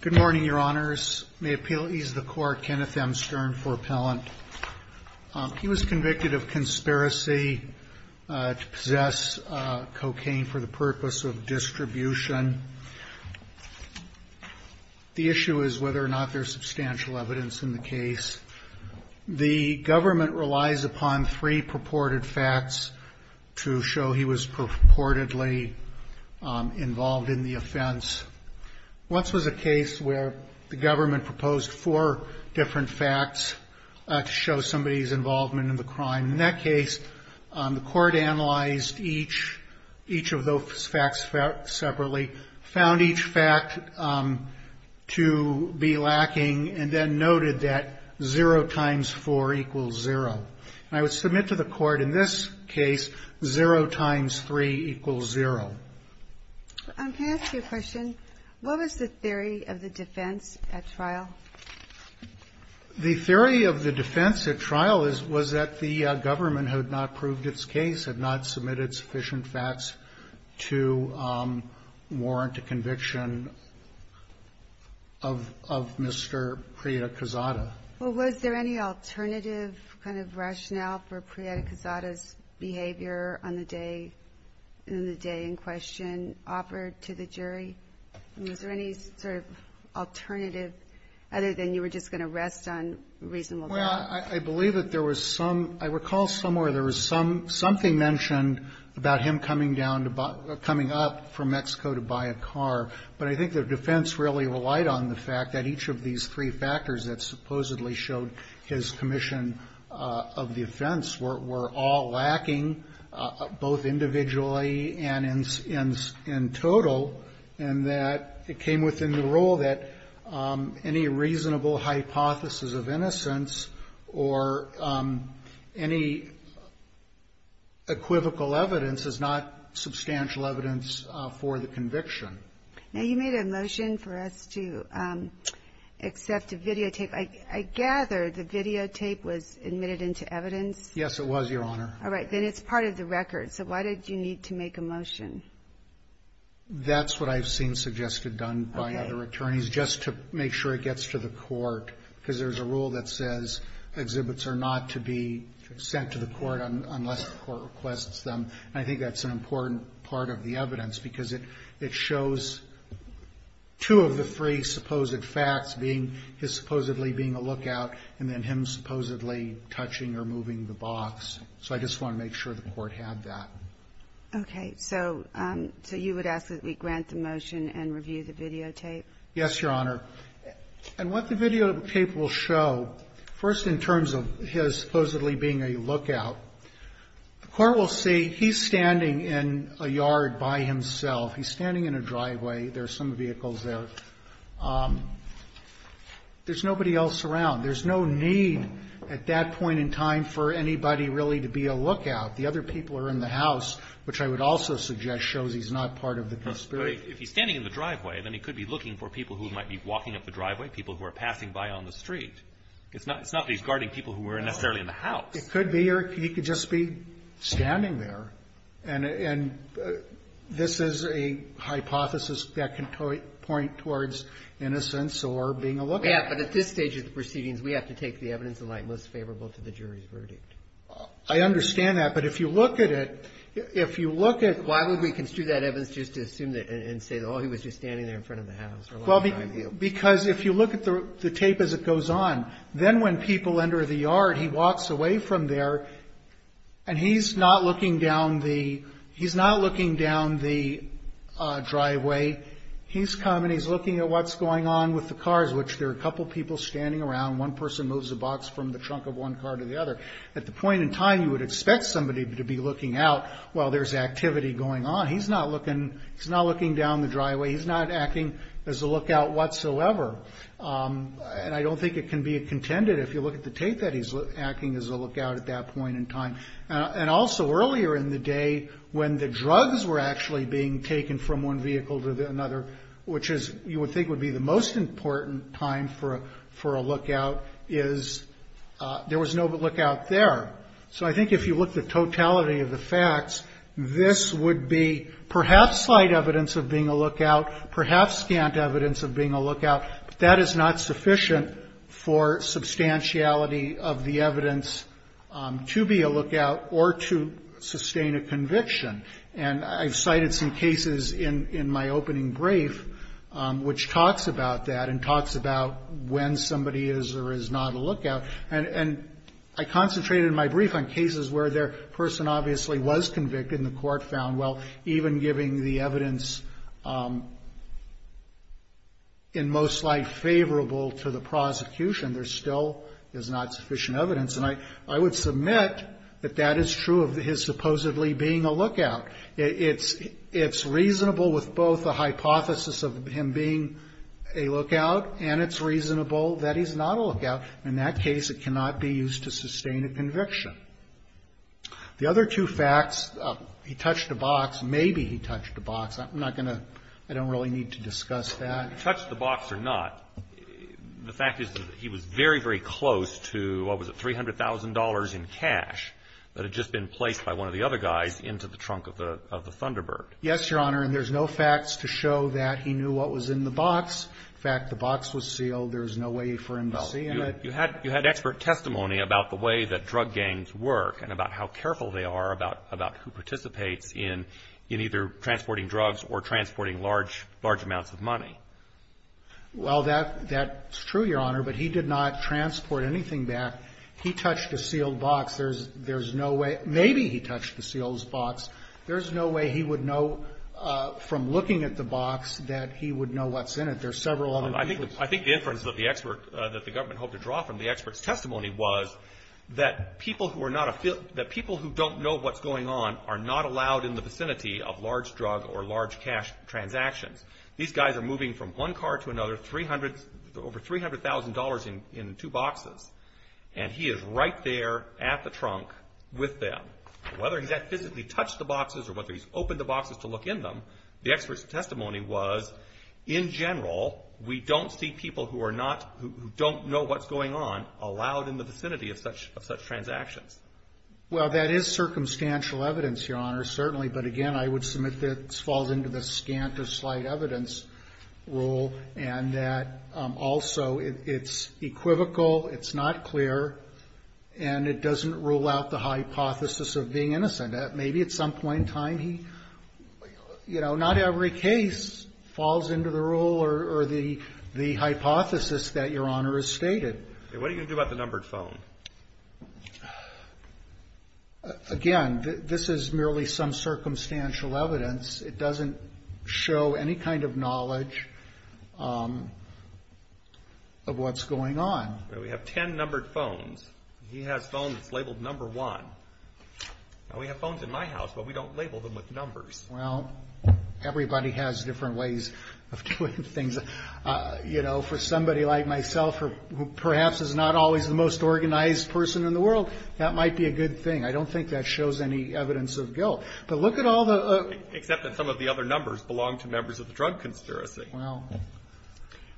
Good morning, Your Honors. May it please the Court, Kenneth M. Stern for appellant. He was convicted of conspiracy to possess cocaine for the purpose of distribution. The issue is whether or not there is substantial evidence in the case. The government relies upon three purported facts to show he was purportedly involved in the offense. Once was a case where the government proposed four different facts to show somebody's involvement in the crime. In that case, the Court analyzed each of those facts separately, found each fact to be lacking, and then noted that 0 times 4 equals 0. And I would submit to the Court in this case, 0 times 3 equals 0. I'm going to ask you a question. What was the theory of the defense at trial? The theory of the defense at trial was that the government had not proved its case, had not submitted sufficient facts to warrant a conviction of Mr. Prieta-Quezada. Well, was there any alternative kind of rationale for Prieta-Quezada's behavior on the day, in the day in question, offered to the jury? Was there any sort of alternative, other than you were just going to rest on reasonable grounds? Well, I believe that there was some – I recall somewhere there was some – something mentioned about him coming down to – coming up from Mexico to buy a car. But I think the defense really relied on the fact that each of these three factors that supposedly showed his commission of the offense were all lacking, both individually and in – in total, and that it came within the rule that any reasonable hypothesis of innocence or any equivocal evidence is not substantial evidence for the conviction. Now, you made a motion for us to accept a videotape. I gather the videotape was admitted into evidence? Yes, it was, Your Honor. All right. Then it's part of the record. So why did you need to make a motion? That's what I've seen suggested done by other attorneys, just to make sure it gets to the court, because there's a rule that says exhibits are not to be sent to the court unless the court requests them. And I think that's an important part of the evidence, because it – it shows two of the three supposed facts, being his supposedly being a lookout, and then him supposedly touching or moving the box. So I just want to make sure the Court had that. Okay. So – so you would ask that we grant the motion and review the videotape? Yes, Your Honor. And what the videotape will show, first in terms of his supposedly being a lookout, the Court will see he's standing in a yard by himself. He's standing in a driveway. There are some vehicles there. There's nobody else around. There's no need at that point in time for anybody really to be a lookout. The other people are in the house, which I would also suggest shows he's not part of the conspiracy. If he's standing in the driveway, then he could be looking for people who might be walking up the driveway, people who are passing by on the street. It's not that he's guarding people who aren't necessarily in the house. It could be, or he could just be standing there. And this is a hypothesis that can point towards innocence or being a lookout. Yeah, but at this stage of the proceedings, we have to take the evidence in light most favorable to the jury's verdict. I understand that. But if you look at it, if you look at – Why would we construe that evidence just to assume that and say, oh, he was just standing there in front of the house for a long time? Because if you look at the tape as it goes on, then when people enter the yard, he walks away from there, and he's not looking down the driveway. He's coming. He's looking at what's going on with the cars, which there are a couple people standing around. One person moves a box from the trunk of one car to the other. At the point in time, you would expect somebody to be looking out while there's activity going on. He's not looking down the driveway. He's not acting as a lookout whatsoever. And I don't think it can be contended, if you look at the tape, that he's acting as a lookout at that point in time. And also, earlier in the day, when the drugs were actually being taken from one vehicle to another, which you would think would be the most important time for a lookout, is there was no lookout there. So I think if you look at the totality of the facts, this would be perhaps slight evidence of being a lookout, perhaps scant evidence of being a lookout. But that is not sufficient for substantiality of the evidence to be a lookout or to sustain a conviction. And I've cited some cases in my opening brief, which talks about that and talks about when somebody is or is not a lookout. And I concentrated in my brief on cases where their person obviously was convicted and the court found, well, even giving the evidence in most light favorable to the prosecution, there still is not sufficient evidence. And I would submit that that is true of his supposedly being a lookout. It's reasonable with both the hypothesis of him being a lookout and it's reasonable that he's not a lookout. In that case, it cannot be used to sustain a conviction. The other two facts, he touched a box. Maybe he touched a box. I'm not going to – I don't really need to discuss that. Roberts. He touched the box or not, the fact is that he was very, very close to, what was it, $300,000 in cash that had just been placed by one of the other guys into the trunk of the Thunderbird. Carvin. Yes, Your Honor. And there's no facts to show that he knew what was in the box. In fact, the box was sealed. There's no way for him to see it. You had expert testimony about the way that drug gangs work and about how careful they are about who participates in either transporting drugs or transporting large amounts of money. Well, that's true, Your Honor, but he did not transport anything back. He touched a sealed box. There's no way – maybe he touched the sealed box. There's no way he would know from looking at the box that he would know what's in it. There's several other people. I think the inference that the government hoped to draw from the expert's testimony was that people who don't know what's going on are not allowed in the vicinity of large drug or large cash transactions. These guys are moving from one car to another, over $300,000 in two boxes, and he is right there at the trunk with them. Whether he's physically touched the boxes or whether he's opened the boxes to look in them, the expert's testimony was, in general, we don't see people who are not – who don't know what's going on allowed in the vicinity of such transactions. Well, that is circumstantial evidence, Your Honor, certainly. But again, I would submit that this falls into the scant or slight evidence rule and that also it's equivocal, it's not clear, and it doesn't rule out the hypothesis of being innocent. Maybe at some point in time he – you know, not every case falls into the rule or the hypothesis that Your Honor has stated. What are you going to do about the numbered phone? Again, this is merely some circumstantial evidence. It doesn't show any kind of knowledge of what's going on. We have 10 numbered phones. He has phones labeled number one. We have phones in my house, but we don't label them with numbers. Well, everybody has different ways of doing things. You know, for somebody like myself who perhaps is not always the most organized person in the world, that might be a good thing. I don't think that shows any evidence of guilt. But look at all the – Except that some of the other numbers belong to members of the drug conspiracy. Well.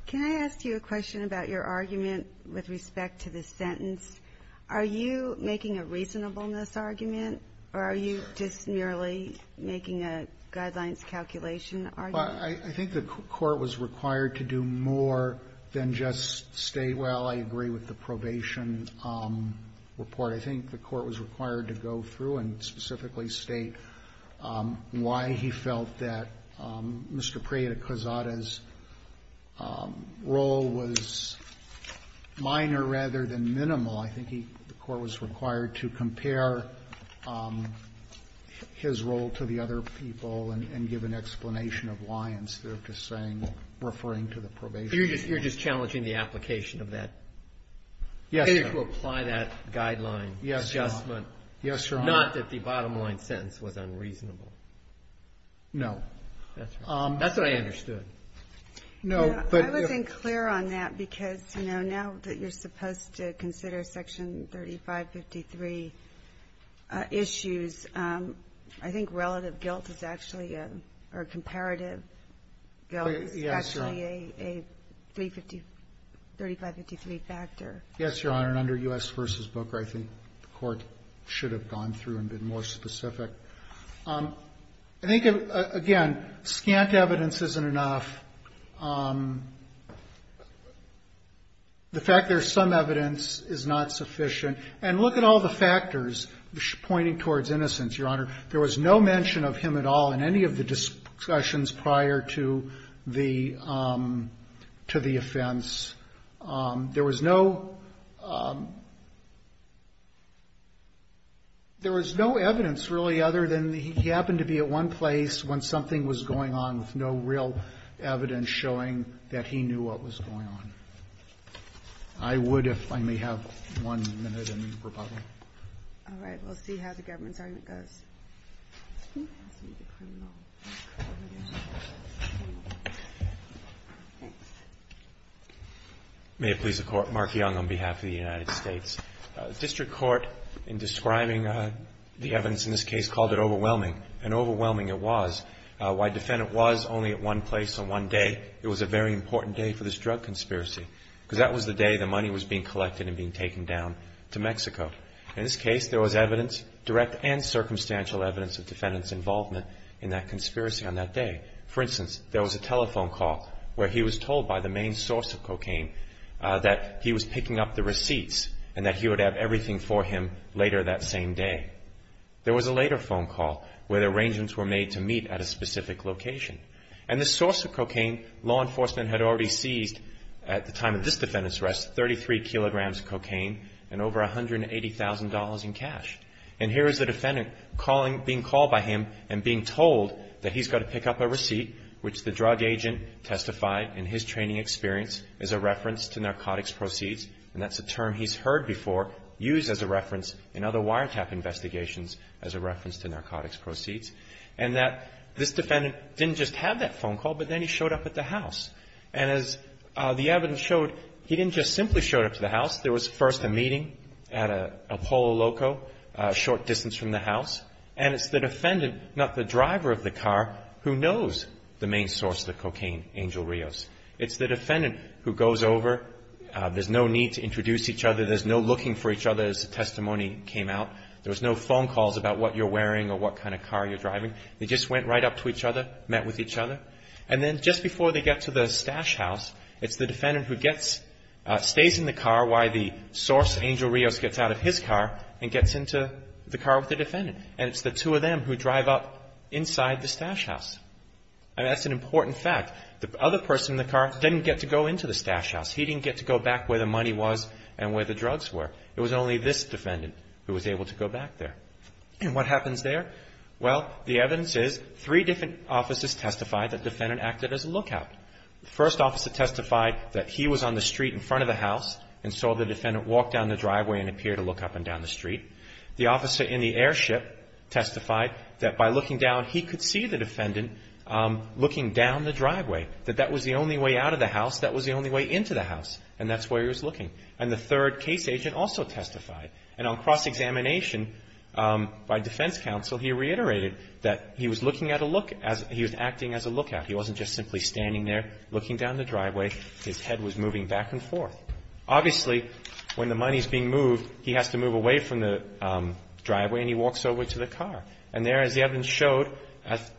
Can I ask you a question about your argument with respect to this sentence? Are you making a reasonableness argument, or are you just merely making a guidelines calculation argument? Well, I think the Court was required to do more than just state, well, I agree with the probation report. I think the Court was required to go through and specifically state why he felt that Mr. Minor, rather than Minimal, I think the Court was required to compare his role to the other people and give an explanation of why instead of just saying, referring to the probation report. You're just challenging the application of that? Yes, Your Honor. To apply that guideline adjustment. Yes, Your Honor. Not that the bottom line sentence was unreasonable. No. That's what I understood. I wasn't clear on that because, you know, now that you're supposed to consider Section 3553 issues, I think relative guilt is actually a – or comparative guilt is actually a 3553 factor. Yes, Your Honor. And under U.S. v. Booker, I think the Court should have gone through and been more specific. I think, again, scant evidence isn't enough. The fact there's some evidence is not sufficient. And look at all the factors pointing towards innocence, Your Honor. There was no mention of him at all in any of the discussions prior to the offense. There was no – there was no evidence really other than he happened to be at one place when something was going on with no real evidence showing that he knew what was going on. I would if I may have one minute in rebuttal. All right. We'll see how the government's argument goes. May it please the Court. Mark Young on behalf of the United States. District Court, in describing the evidence in this case, called it overwhelming. And overwhelming it was. While defendant was only at one place on one day, it was a very important day for this drug conspiracy because that was the day the money was being collected and being taken down to Mexico. In this case, there was evidence, direct and circumstantial evidence of defendant's involvement in that conspiracy on that day. For instance, there was a telephone call where he was told by the main source of cocaine that he was picking up the receipts and that he would have everything for him later that same day. There was a later phone call where the arrangements were made to meet at a specific location. And the source of cocaine, law enforcement had already seized at the time of this defendant's arrest, 33 kilograms of cocaine and over $180,000 in cash. And here is the defendant being called by him and being told that he's got to pick up a receipt which the drug agent testified in his training experience as a reference to narcotics proceeds. And that's a term he's heard before used as a reference in other wiretap investigations as a reference to narcotics proceeds. And that this defendant didn't just have that phone call, but then he showed up at the house. And as the evidence showed, he didn't just simply showed up to the house. There was first a meeting at a Polo Loco a short distance from the house. And it's the defendant, not the driver of the car, who knows the main source of the cocaine, Angel Rios. It's the defendant who goes over. There's no need to introduce each other. There's no looking for each other as the testimony came out. There was no phone calls about what you're wearing or what kind of car you're driving. They just went right up to each other, met with each other. And then just before they get to the stash house, it's the defendant who stays in the car while the source, Angel Rios, gets out of his car and gets into the car with the defendant. And it's the two of them who drive up inside the stash house. And that's an important fact. The other person in the car didn't get to go into the stash house. He didn't get to go back where the money was and where the drugs were. It was only this defendant who was able to go back there. And what happens there? Well, the evidence is three different officers testified that the defendant acted as a lookout. The first officer testified that he was on the street in front of the house and saw the defendant walk down the driveway and appear to look up and down the street. The officer in the airship testified that by looking down, he could see the defendant looking down the driveway, that that was the only way out of the house, that was the only way into the house, and that's where he was looking. And the third case agent also testified. And on cross-examination by defense counsel, he reiterated that he was looking at a look as he was acting as a lookout. He wasn't just simply standing there looking down the driveway. His head was moving back and forth. Obviously, when the money is being moved, he has to move away from the driveway and he walks over to the car. And there, as the evidence showed,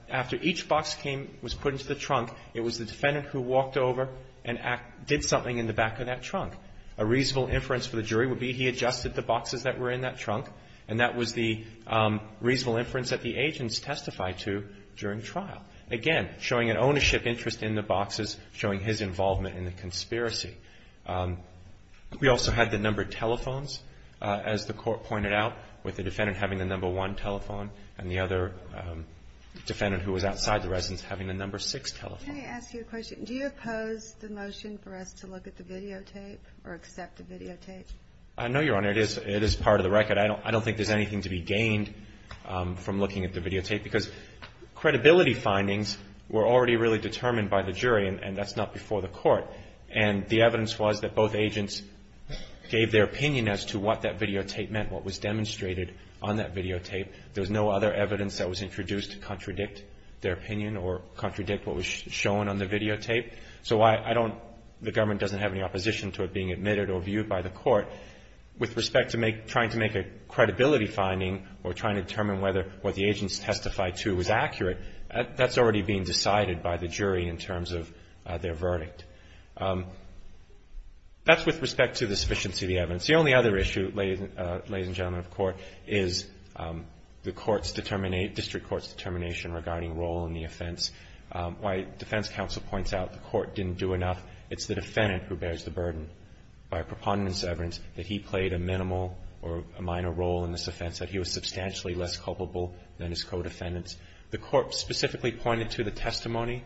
after each box came, was put into the trunk, it was the defendant who walked over and did something in the back of that trunk. A reasonable inference for the jury would be he adjusted the boxes that were in that trunk and that was the reasonable inference that the agents testified to during trial. Again, showing an ownership interest in the boxes, showing his involvement in the conspiracy. We also had the number of telephones, as the court pointed out, with the defendant having the number one telephone and the other defendant who was outside the residence having the number six telephone. Can I ask you a question? Do you oppose the motion for us to look at the videotape or accept the videotape? I know, Your Honor, it is part of the record. I don't think there's anything to be gained from looking at the videotape because credibility findings were already really determined by the jury and that's not before the court. And the evidence was that both agents gave their opinion as to what that videotape meant, what was demonstrated on that videotape. There was no other evidence that was introduced to contradict their opinion or contradict what was shown on the videotape. So I don't, the government doesn't have any opposition to it being admitted or viewed by the court. With respect to trying to make a credibility finding or trying to determine whether what the agents testified to was accurate, that's already been decided by the jury in terms of their verdict. That's with respect to the sufficiency of the evidence. The only other issue, ladies and gentlemen of court, is the court's determination, district court's determination regarding role in the offense. Why defense counsel points out the court didn't do enough, it's the defendant who bears the burden by preponderance of evidence that he played a minimal or a minor role in this offense, that he was substantially less culpable than his co-defendants. The court specifically pointed to the testimony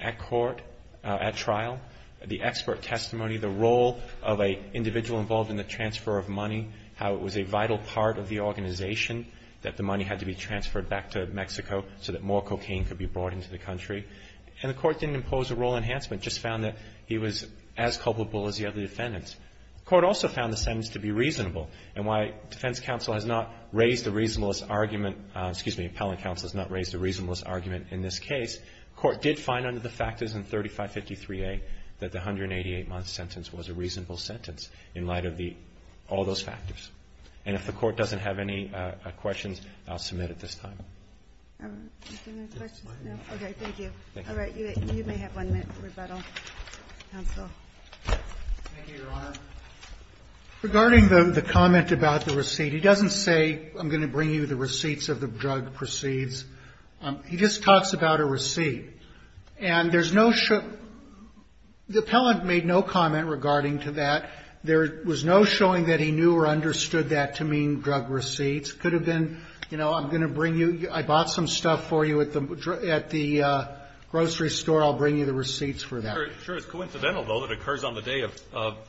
at court, at trial, the expert testimony, the role of an individual involved in the transfer of money, how it was a vital part of the organization, that the money had to be transferred back to Mexico so that more cocaine could be brought into the country. And the court didn't impose a role enhancement, just found that he was as culpable as the other defendants. Court also found the sentence to be reasonable. And while defense counsel has not raised the reasonablest argument, excuse me, appellant counsel has not raised the reasonablest argument in this case, court did find under the factors in 3553A that the 188-month sentence was a reasonable sentence in light of all those factors. And if the court doesn't have any questions, I'll submit at this time. Do you have any questions? Okay, thank you. All right, you may have one minute for rebuttal, counsel. Thank you, Your Honor. Regarding the comment about the receipt, he doesn't say I'm going to bring you the receipts of the drug proceeds. He just talks about a receipt. And there's no show – the appellant made no comment regarding to that. There was no showing that he knew or understood that to mean drug receipts. It could have been, you know, I'm going to bring you – I bought some stuff for you at the grocery store. I'll bring you the receipts for that. It sure is coincidental, though, that it occurs on the day of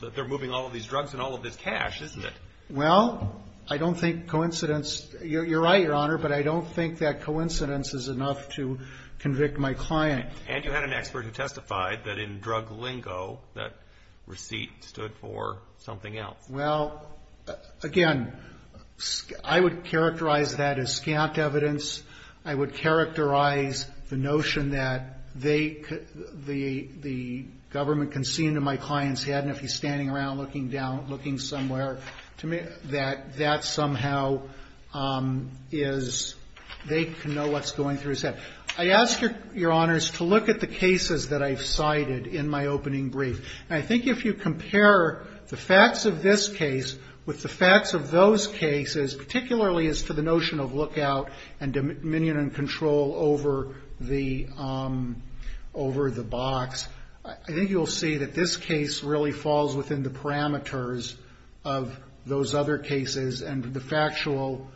– that they're moving all of these drugs and all of this cash, isn't it? Well, I don't think coincidence – you're right, Your Honor, but I don't think that coincidence is enough to convict my client. And you had an expert who testified that in drug lingo, that receipt stood for something else. Well, again, I would characterize that as scant evidence. I would characterize the notion that they – the government can see into my client's head, and if he's standing around looking down, looking somewhere, that that somehow is – they can know what's going through his head. I ask Your Honors to look at the cases that I've cited in my opening brief. And I think if you compare the facts of this case with the facts of those cases, particularly as to the notion of lookout and dominion and control over the box, I think you'll see that this case really falls within the parameters of those other cases and the factual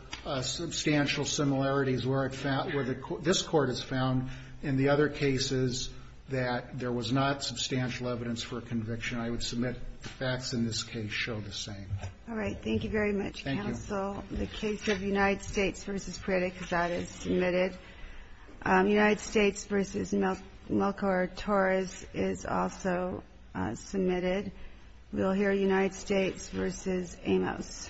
substantial similarities where I've found – where this Court has found in the other cases that there was not substantial evidence for a conviction. I would submit the facts in this case show the same. All right. Thank you very much, counsel. The case of United States v. Preda Cazada is submitted. United States v. Melchor Torres is also submitted. We'll hear United States v. Amos. Thank you.